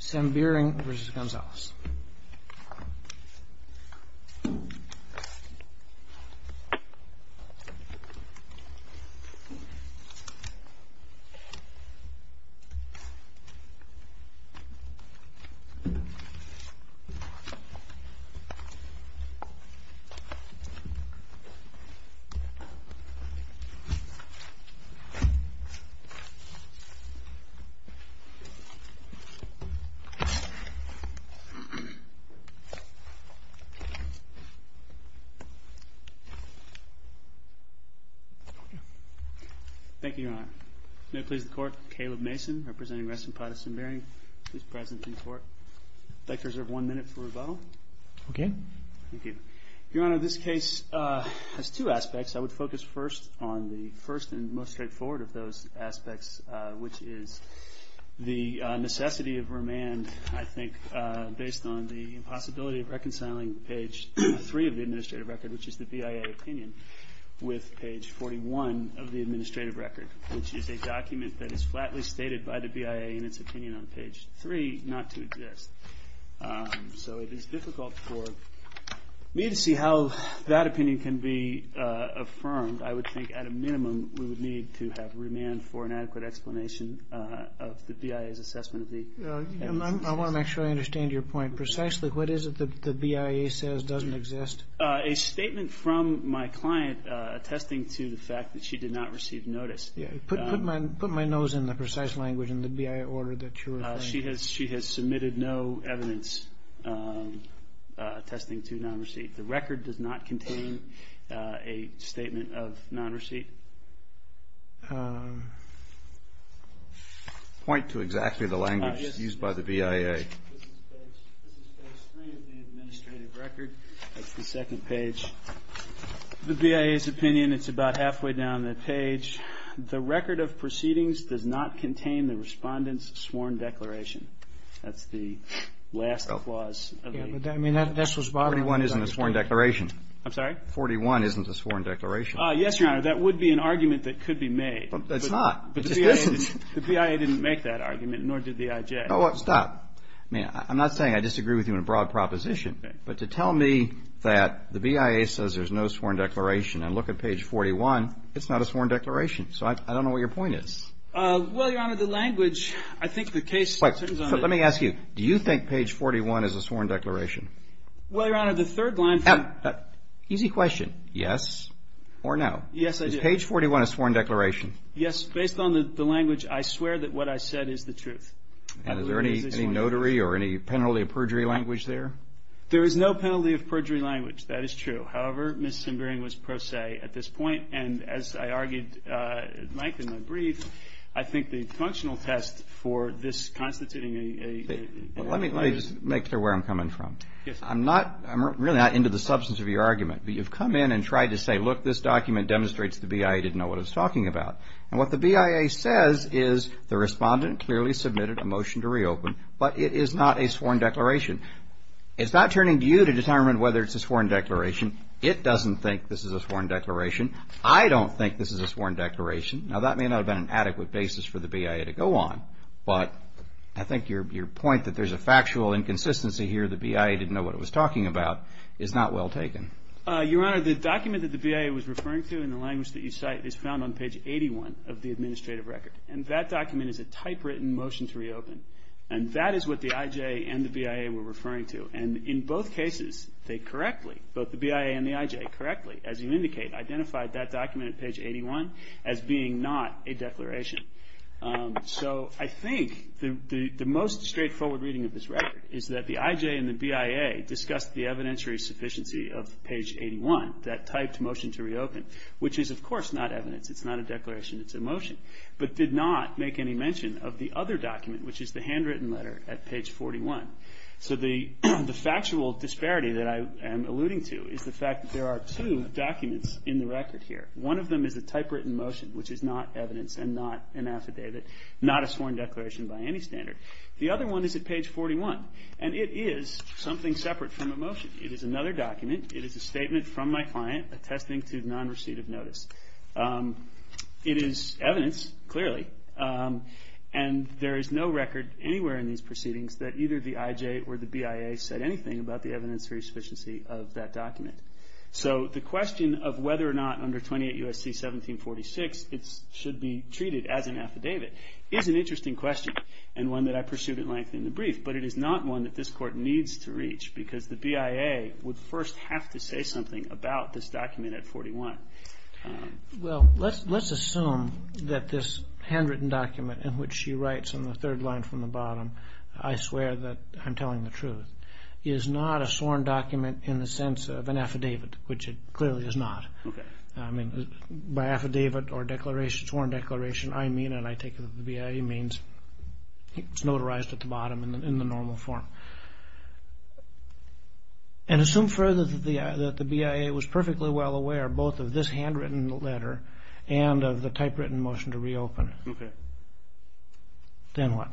SEMBIRING v. GONZALES Thank you, Your Honor. May it please the Court, Caleb Mason, representing Reston Potts Sembiring, is present in court. I'd like to reserve one minute for rebuttal. Okay. Thank you. Your Honor, this case has two aspects. I would focus first on the first and most I think, based on the impossibility of reconciling page 3 of the administrative record, which is the BIA opinion, with page 41 of the administrative record, which is a document that is flatly stated by the BIA in its opinion on page 3 not to exist. So it is difficult for me to see how that opinion can be affirmed. I would think at a minimum we would need to have remand for an adequate explanation of the BIA's assessment of the evidence. I want to make sure I understand your point. Precisely, what is it that the BIA says doesn't exist? A statement from my client attesting to the fact that she did not receive notice. Put my nose in the precise language in the BIA order that you were saying. She has submitted no evidence attesting to non-receipt. The record does not contain a sworn declaration. Point to exactly the language used by the BIA. This is page 3 of the administrative record. That's the second page. The BIA's opinion, it's about halfway down the page. The record of proceedings does not contain the respondent's sworn declaration. That's the last clause. I mean, that's what's bothering me. 41 isn't a sworn declaration. I'm sorry? 41 isn't a sworn declaration. Yes, Your Honor, that would be an argument that could be made. It's not. The BIA didn't make that argument, nor did the IJ. Stop. I'm not saying I disagree with you in a broad proposition, but to tell me that the BIA says there's no sworn declaration and look at page 41, it's not a sworn declaration. So I don't know what your point is. Well, Your Honor, the language, I think the case... Let me ask you, do you think page 41 is a sworn declaration? Well, Your Honor, the third line... Easy question. Yes or no? Yes, I do. Is page 41 a sworn declaration? Yes, based on the language, I swear that what I said is the truth. And is there any notary or any penalty of perjury language there? There is no penalty of perjury language. That is true. However, Ms. Simbering was pro se at this point, and as I argued at length in my brief, I think the functional test for this constituting a... Let me just make clear where I'm coming from. Yes, sir. I'm really not into the substance of your argument, but you've come in and tried to say, look, this document demonstrates the BIA didn't know what it was talking about. And what the BIA says is the respondent clearly submitted a motion to reopen, but it is not a sworn declaration. It's not turning to you to determine whether it's a sworn declaration. It doesn't think this is a sworn declaration. I don't think this is a sworn declaration. Now, that may not have been an adequate basis for the BIA to go on, but I think your point that there's a factual inconsistency here, the BIA didn't know what it was talking about, is not well taken. Your Honor, the document that the BIA was referring to in the language that you cite is found on page 81 of the administrative record. And that document is a typewritten motion to reopen. And that is what the IJ and the BIA were referring to. And in both cases, they correctly, both the BIA and the IJ, correctly, as you indicate, identified that document at page 81 as being not a declaration. So I think the most straightforward reading of this record is that the IJ and the BIA discussed the evidentiary sufficiency of page 81, that typed motion to reopen, which is, of course, not evidence. It's not a declaration. It's a motion. But did not make any mention of the other document, which is the handwritten letter at page 41. So the factual disparity that I am alluding to is the fact that there are two documents in the record here. One of them is a typewritten motion, which is not evidence and not an affidavit, not a sworn declaration by any standard. The other one is at page 41. And it is something separate from a motion. It is another document. It is a statement from my client attesting to non-receipt of notice. It is evidence, clearly, and there is no record anywhere in these proceedings that either the IJ or the BIA said anything about the evidentiary sufficiency of that document. So the question of whether or not under 28 U.S.C. 1746 it should be treated as an affidavit is an interesting question and one that I pursued at length in the brief. But it is not one that this Court needs to reach because the BIA would first have to say something about this document at 41. Well, let's assume that this handwritten document in which she writes on the third line from the bottom, I swear that I'm telling the truth, is not a sworn document in the sense of an affidavit, which it clearly is not. I mean, by affidavit or sworn declaration, I mean, and I take it that the BIA means, it's notarized at the bottom in the normal form. And assume further that the BIA was perfectly well aware both of this handwritten letter and of the typewritten motion to reopen. Okay. Then what?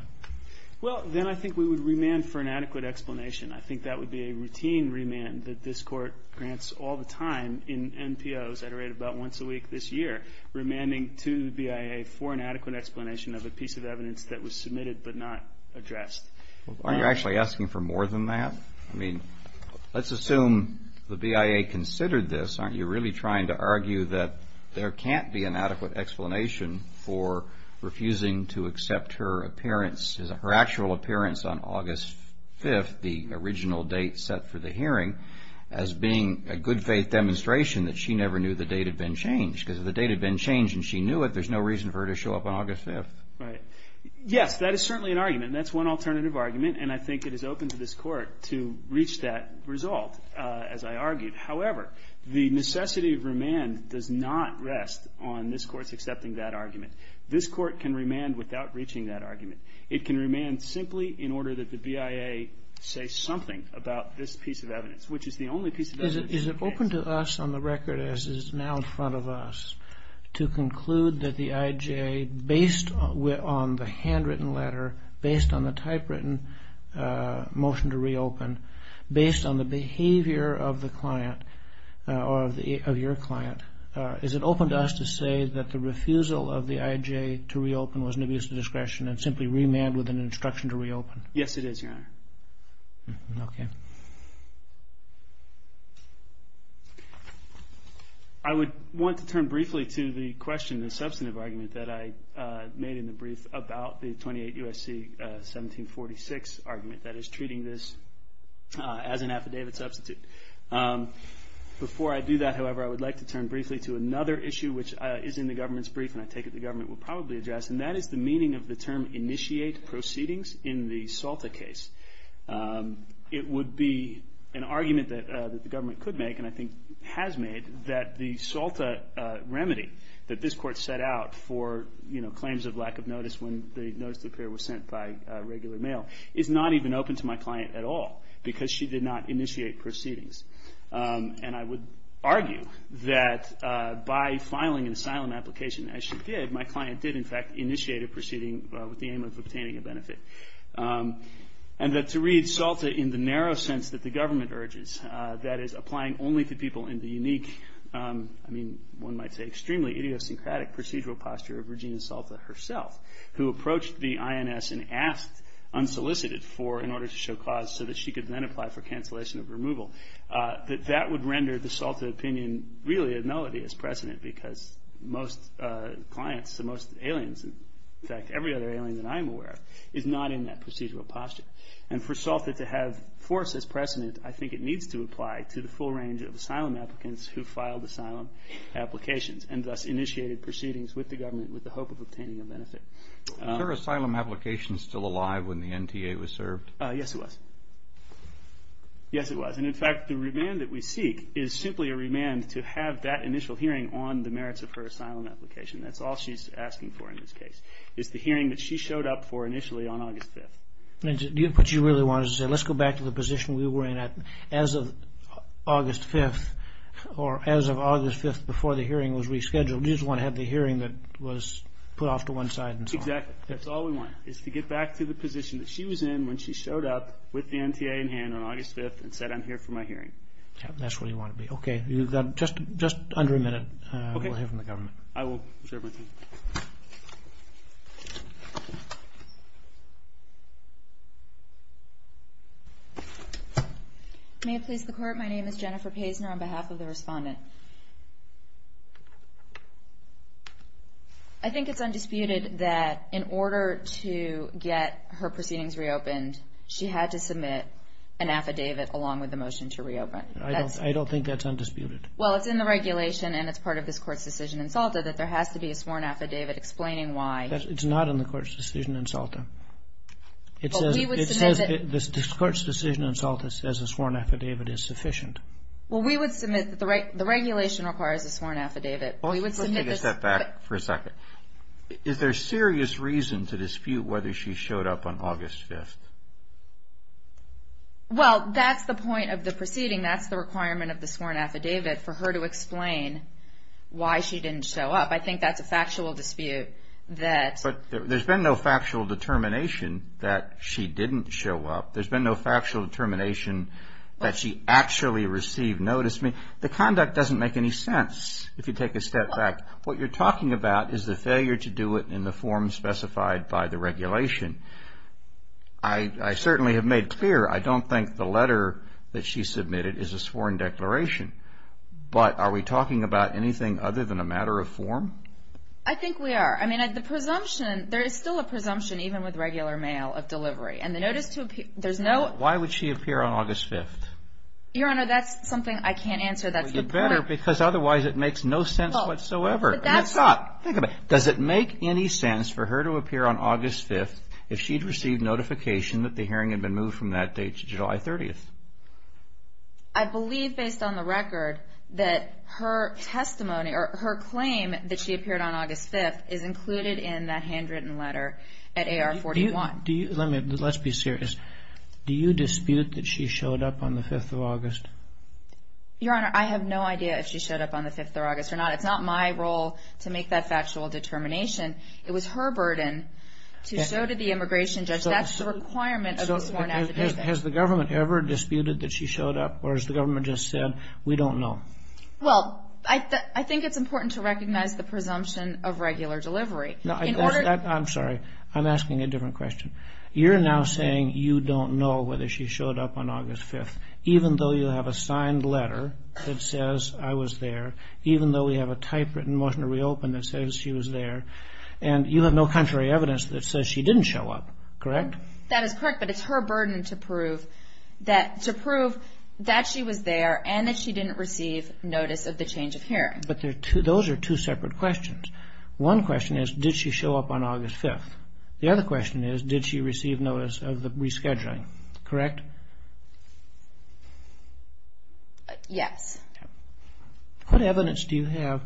Well, then I think we would remand for an adequate explanation. I think that would be a routine remand that this Court grants all the time in NPOs at a rate of about once a week this year, remanding to the BIA for an adequate explanation of a piece of evidence that was submitted but not addressed. Well, aren't you actually asking for more than that? I mean, let's assume the BIA considered this. Aren't you really trying to argue that there can't be an adequate explanation for refusing to accept her appearance, her actual appearance on August 5th, the original date set for the hearing, as being a good faith demonstration that she never knew the date had been changed because if the date had been changed and she knew it, there's no reason for her to show up on August 5th? Right. Yes, that is certainly an argument, and that's one alternative argument, and I think it is open to this Court to reach that result, as I argued. However, the necessity of remand does not rest on this Court's accepting that argument. This Court can remand without reaching that argument. It can remand simply in order that the BIA say something about this piece of evidence, which is the only piece of evidence that you can't say. Your Honor, is it open to us on the record as it is now in front of us to conclude that the IJ, based on the handwritten letter, based on the typewritten motion to reopen, based on the behavior of the client or of your client, is it open to us to say that the refusal of the IJ to reopen was an abuse of discretion and simply remand with an instruction to reopen? Yes, it is, Your Honor. Okay. I would want to turn briefly to the question, the substantive argument, that I made in the brief about the 28 U.S.C. 1746 argument that is treating this as an affidavit substitute. Before I do that, however, I would like to turn briefly to another issue, which is in the government's brief, and I take it the government will probably address, and that is the meaning of the term initiate proceedings in the Salta case. It would be an argument that the government could make, and I think has made, that the Salta remedy that this Court set out for claims of lack of notice when the notice to appear was sent by regular mail is not even open to my client at all because she did not initiate proceedings. And I would argue that by filing an asylum application, as she did, my client did, in fact, initiate a proceeding with the aim of obtaining a benefit. And that to read Salta in the narrow sense that the government urges, that is, applying only to people in the unique, I mean, one might say extremely idiosyncratic procedural posture of Regina Salta herself, who approached the INS and asked unsolicited for, in order to show cause, so that she could then apply for cancellation of removal, that that would render the Salta opinion really a melody as precedent because most clients, most aliens, in fact, every other alien that I'm aware of, is not in that procedural posture. And for Salta to have force as precedent, I think it needs to apply to the full range of asylum applicants who filed asylum applications and thus initiated proceedings with the government with the hope of obtaining a benefit. Was her asylum application still alive when the NTA was served? Yes, it was. Yes, it was. And in fact, the remand that we seek is simply a remand to have that initial hearing on the merits of her asylum application. That's all she's asking for in this case, is the hearing that she showed up for initially on August 5th. What you really wanted to say, let's go back to the position we were in as of August 5th, or as of August 5th before the hearing was rescheduled. You just want to have the hearing that was put off to one side and so on. Exactly. That's all we want, is to get back to the position that she was in when she showed up with the NTA in hand on August 5th and said, I'm here for my hearing. That's what you want to be. Okay. You've got just under a minute. Okay. We'll hear from the government. I will share my screen. May it please the Court, my name is Jennifer Paisner on behalf of the respondent. I think it's undisputed that in order to get her proceedings reopened, she had to submit an affidavit along with the motion to reopen. I don't think that's undisputed. Well, it's in the regulation and it's part of this Court's decision in SALTA that there has to be a sworn affidavit explaining why. It's not in the Court's decision in SALTA. It says this Court's decision in SALTA says a sworn affidavit is sufficient. Well, we would submit that the regulation requires a sworn affidavit. Let's take a step back for a second. Is there serious reason to dispute whether she showed up on August 5th? Well, that's the point of the proceeding. That's the requirement of the sworn affidavit for her to explain why she didn't show up. I think that's a factual dispute. But there's been no factual determination that she didn't show up. There's been no factual determination that she actually received notice. The conduct doesn't make any sense if you take a step back. What you're talking about is the failure to do it in the form specified by the regulation. I certainly have made clear I don't think the letter that she submitted is a sworn declaration. But are we talking about anything other than a matter of form? I think we are. I mean, the presumption, there is still a presumption, even with regular mail, of delivery. Why would she appear on August 5th? Your Honor, that's something I can't answer. Well, you better, because otherwise it makes no sense whatsoever. Think about it. Does it make any sense for her to appear on August 5th if she'd received notification that the hearing had been moved from that date to July 30th? I believe, based on the record, that her testimony or her claim that she appeared on August 5th is included in that handwritten letter at AR-41. Let's be serious. Do you dispute that she showed up on the 5th of August? Your Honor, I have no idea if she showed up on the 5th of August or not. It's not my role to make that factual determination. It was her burden to show to the immigration judge. That's the requirement of the sworn affidavit. So has the government ever disputed that she showed up, or has the government just said, we don't know? Well, I think it's important to recognize the presumption of regular delivery. I'm sorry. I'm asking a different question. You're now saying you don't know whether she showed up on August 5th, even though you have a signed letter that says, I was there, even though we have a typewritten motion to reopen that says she was there, and you have no contrary evidence that says she didn't show up, correct? That is correct, but it's her burden to prove that she was there and that she didn't receive notice of the change of hearing. But those are two separate questions. One question is, did she show up on August 5th? The other question is, did she receive notice of the rescheduling, correct? Yes. What evidence do you have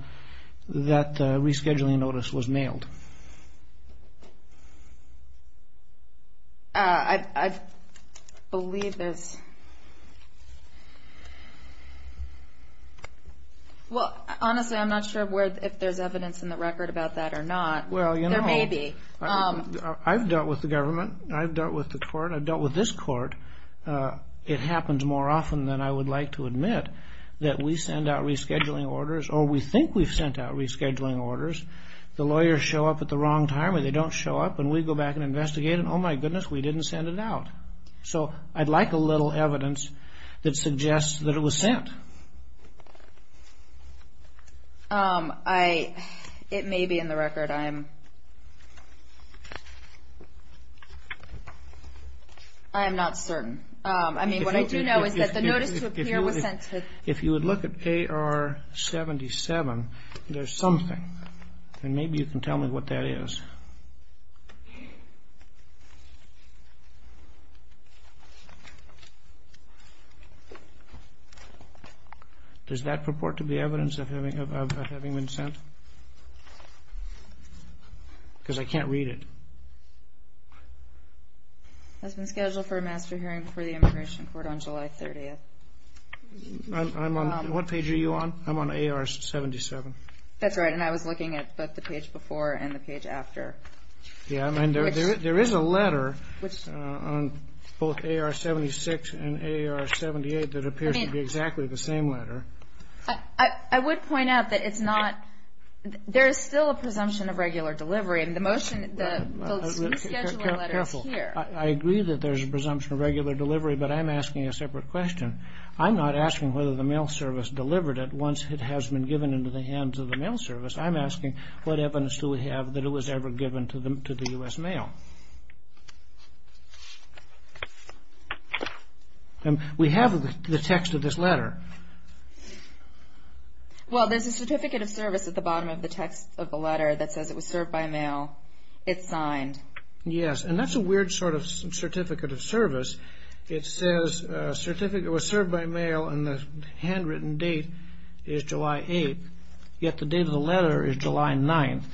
that the rescheduling notice was mailed? I believe there's – Well, honestly, I'm not sure if there's evidence in the record about that or not. There may be. I've dealt with the government. I've dealt with the court. I've dealt with this court. It happens more often than I would like to admit that we send out rescheduling orders or we think we've sent out rescheduling orders. The lawyers show up at the wrong time, or they don't show up, and we go back and investigate, and, oh, my goodness, we didn't send it out. So I'd like a little evidence that suggests that it was sent. It may be in the record. I am not certain. I mean, what I do know is that the notice to appear was sent to – If you would look at AR 77, there's something. And maybe you can tell me what that is. Does that purport to be evidence of having been sent? Because I can't read it. That's been scheduled for a master hearing for the immigration court on July 30th. I'm on – what page are you on? I'm on AR 77. That's right. And I was looking at both the page before and the page after. Yeah. I mean, there is a letter on both AR 76 and AR 78 that appears to be exactly the same letter. I would point out that it's not – there is still a presumption of regular delivery. And the motion – the rescheduling letter is here. Careful. I agree that there's a presumption of regular delivery, but I'm asking a separate question. I'm not asking whether the mail service delivered it once it has been given into the hands of the mail service. I'm asking what evidence do we have that it was ever given to the U.S. Mail? We have the text of this letter. Well, there's a certificate of service at the bottom of the text of the letter that says it was served by mail. It's signed. Yes. And that's a weird sort of certificate of service. It says it was served by mail and the handwritten date is July 8th, yet the date of the letter is July 9th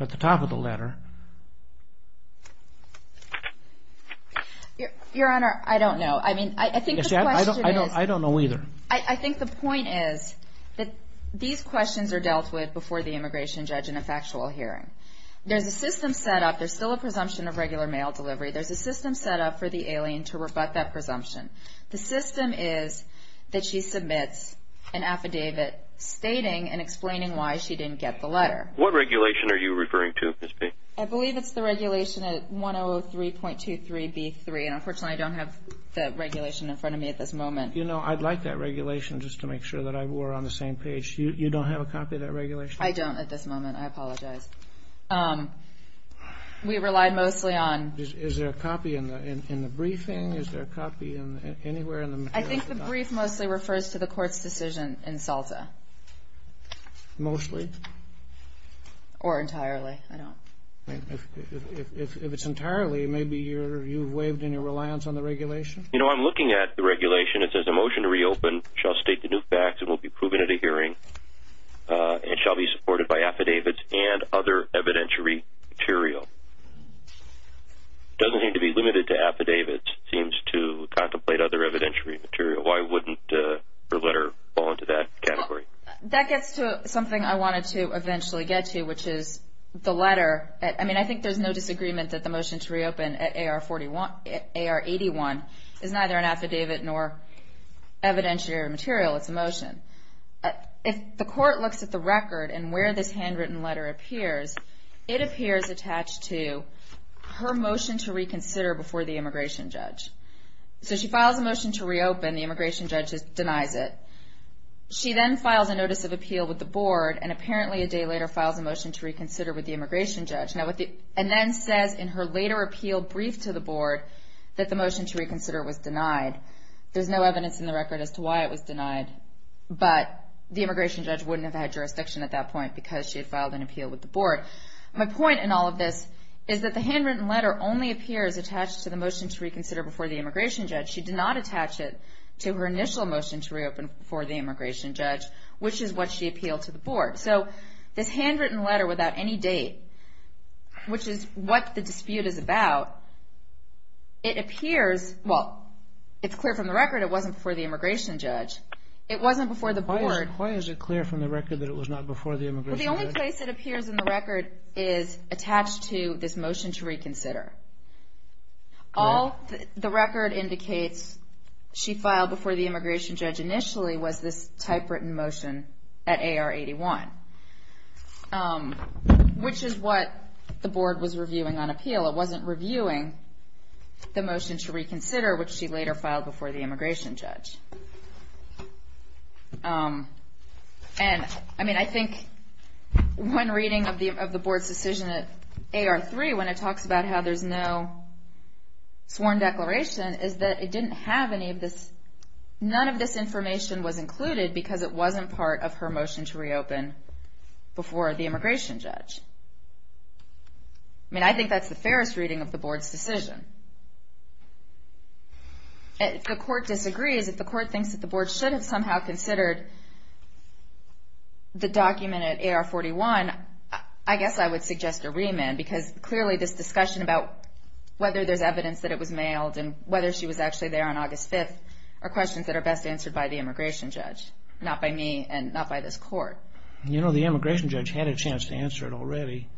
at the top of the letter. Your Honor, I don't know. I mean, I think the question is – I don't know either. I think the point is that these questions are dealt with before the immigration judge in a factual hearing. There's a system set up. There's still a presumption of regular mail delivery. There's a system set up for the alien to rebut that presumption. The system is that she submits an affidavit stating and explaining why she didn't get the letter. What regulation are you referring to, Ms. B? I believe it's the regulation at 1003.23B3, and unfortunately I don't have the regulation in front of me at this moment. You know, I'd like that regulation just to make sure that we're on the same page. You don't have a copy of that regulation? I don't at this moment. I apologize. We relied mostly on – Is there a copy in the briefing? Is there a copy anywhere in the – I think the brief mostly refers to the court's decision in SALTA. Mostly? Or entirely. I don't – If it's entirely, maybe you've waived any reliance on the regulation? You know, I'm looking at the regulation. It says a motion to reopen shall state the new facts and will be proven at a hearing and shall be supported by affidavits and other evidentiary material. It doesn't need to be limited to affidavits. It seems to contemplate other evidentiary material. Why wouldn't her letter fall into that category? That gets to something I wanted to eventually get to, which is the letter. I mean, I think there's no disagreement that the motion to reopen at AR81 is neither an affidavit nor evidentiary material. It's a motion. If the court looks at the record and where this handwritten letter appears, it appears attached to her motion to reconsider before the immigration judge. So she files a motion to reopen. The immigration judge denies it. She then files a notice of appeal with the board and apparently a day later files a motion to reconsider with the immigration judge and then says in her later appeal brief to the board that the motion to reconsider was denied. There's no evidence in the record as to why it was denied, but the immigration judge wouldn't have had jurisdiction at that point because she had filed an appeal with the board. My point in all of this is that the handwritten letter only appears attached to the motion to reconsider before the immigration judge. She did not attach it to her initial motion to reopen before the immigration judge, which is what she appealed to the board. So this handwritten letter without any date, which is what the dispute is about, it appears, well, it's clear from the record it wasn't before the immigration judge. It wasn't before the board. Why is it clear from the record that it was not before the immigration judge? Well, the only place it appears in the record is attached to this motion to reconsider. All the record indicates she filed before the immigration judge initially was this typewritten motion at AR 81, which is what the board was reviewing on appeal. It wasn't reviewing the motion to reconsider, which she later filed before the immigration judge. And, I mean, I think one reading of the board's decision at AR 3, when it talks about how there's no sworn declaration, is that it didn't have any of this. None of this information was included because it wasn't part of her motion to reopen before the immigration judge. I mean, I think that's the fairest reading of the board's decision. If the court disagrees, if the court thinks that the board should have somehow considered the document at AR 41, I guess I would suggest a remand because clearly this discussion about whether there's evidence that it was mailed and whether she was actually there on August 5th are questions that are best answered by the immigration judge, not by me and not by this court. You know, the immigration judge had a chance to answer it already.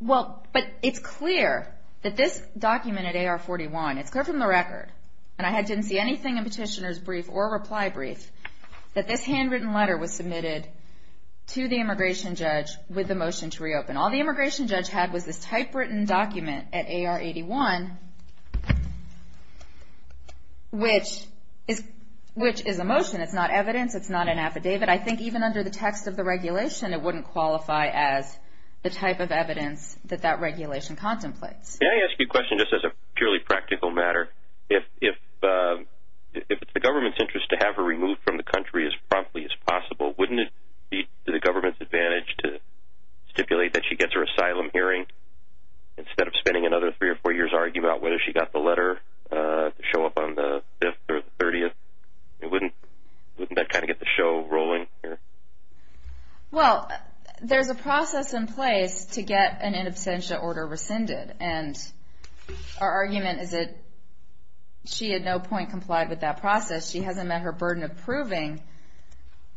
Well, but it's clear that this document at AR 41, it's clear from the record, and I didn't see anything in Petitioner's brief or reply brief, that this handwritten letter was submitted to the immigration judge with the motion to reopen. All the immigration judge had was this typewritten document at AR 81, which is a motion. It's not evidence. It's not an affidavit. I think even under the text of the regulation, it wouldn't qualify as the type of evidence that that regulation contemplates. Can I ask you a question just as a purely practical matter? If it's the government's interest to have her removed from the country as promptly as possible, wouldn't it be to the government's advantage to stipulate that she gets her asylum hearing instead of spending another three or four years arguing about whether she got the letter to show up on the 5th or the 30th? Wouldn't that kind of get the show rolling here? Well, there's a process in place to get an in absentia order rescinded, and our argument is that she had no point complied with that process. She hasn't met her burden of proving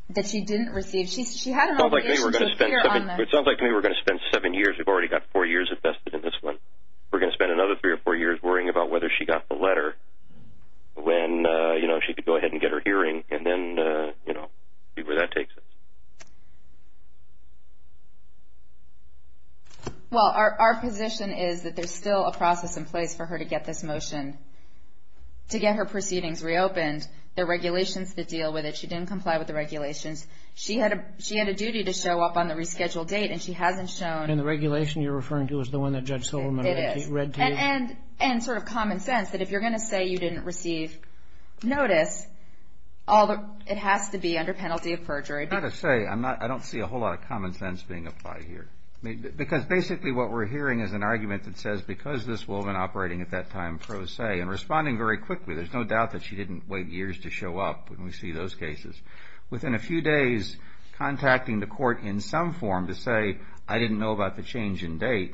that she didn't receive. It sounds like maybe we're going to spend seven years. We've already got four years invested in this one. We're going to spend another three or four years worrying about whether she got the letter when she could go ahead and get her hearing and then see where that takes us. Well, our position is that there's still a process in place for her to get this motion. To get her proceedings reopened, there are regulations that deal with it. She didn't comply with the regulations. She had a duty to show up on the rescheduled date, and she hasn't shown. And the regulation you're referring to is the one that Judge Solomon read to you? And sort of common sense, that if you're going to say you didn't receive notice, it has to be under penalty of perjury. I'm not going to say. I don't see a whole lot of common sense being applied here. Because basically what we're hearing is an argument that says, because this woman operating at that time pro se and responding very quickly, there's no doubt that she didn't wait years to show up when we see those cases. Within a few days, contacting the court in some form to say, I didn't know about the change in date,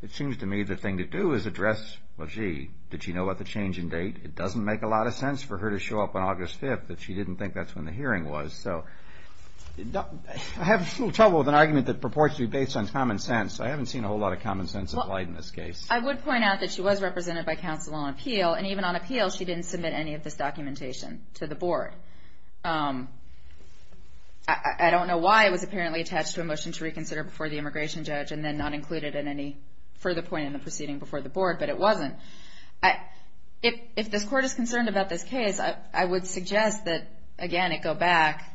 it seems to me the thing to do is address, well, gee, did she know about the change in date? It doesn't make a lot of sense for her to show up on August 5th that she didn't think that's when the hearing was. I have a little trouble with an argument that purports to be based on common sense. I haven't seen a whole lot of common sense applied in this case. I would point out that she was represented by counsel on appeal, I don't know why it was apparently attached to a motion to reconsider before the immigration judge and then not included in any further point in the proceeding before the board, but it wasn't. If this court is concerned about this case, I would suggest that, again, it go back.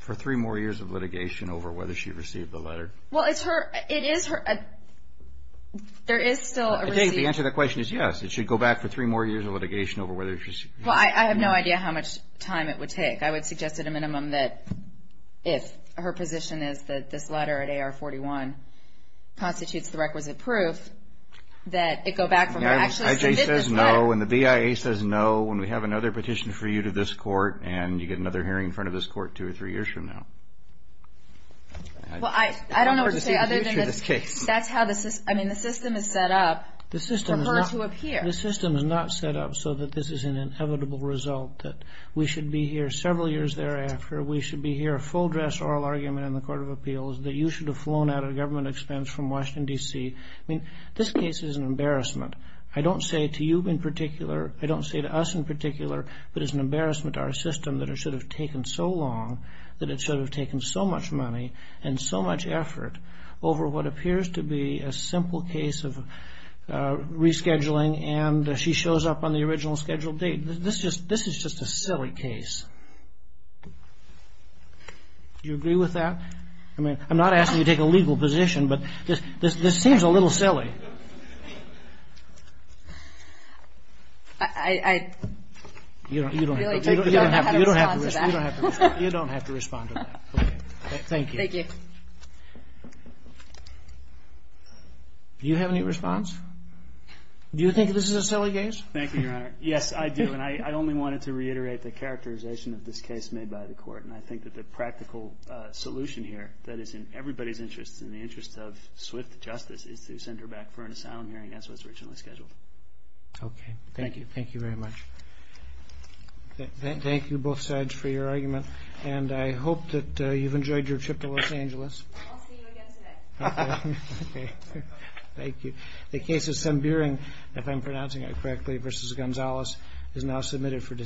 For three more years of litigation over whether she received the letter? Well, it is her. There is still a receipt. I think the answer to that question is yes. It should go back for three more years of litigation over whether she received the letter. Well, I have no idea how much time it would take. I would suggest at a minimum that if her position is that this letter at AR-41 constitutes the requisite proof, that it go back for her to actually submit this letter. When the BIA says no, when we have another petition for you to this court and you get another hearing in front of this court two or three years from now. Well, I don't know what to say other than that's how the system is set up for her to appear. The system is not set up so that this is an inevitable result, that we should be here several years thereafter, we should be here a full-dress oral argument in the Court of Appeals, that you should have flown out of government expense from Washington, D.C. I mean, this case is an embarrassment. I don't say to you in particular, I don't say to us in particular, but it's an embarrassment to our system that it should have taken so long, that it should have taken so much money and so much effort over what appears to be a simple case of rescheduling and she shows up on the original scheduled date. This is just a silly case. Do you agree with that? I mean, I'm not asking you to take a legal position, but this seems a little silly. I really don't know how to respond to that. You don't have to respond to that. Okay. Thank you. Thank you. Do you have any response? Do you think this is a silly case? Thank you, Your Honor. Yes, I do, and I only wanted to reiterate the characterization of this case made by the Court, and I think that the practical solution here that is in everybody's interest, in the interest of swift justice, is to send her back for an asylum hearing as was originally scheduled. Okay. Thank you. Thank you very much. Thank you, both sides, for your argument. And I hope that you've enjoyed your trip to Los Angeles. I'll see you again today. Okay. Thank you. The case of Sembiring, if I'm pronouncing it correctly, versus Gonzalez is now submitted for decision.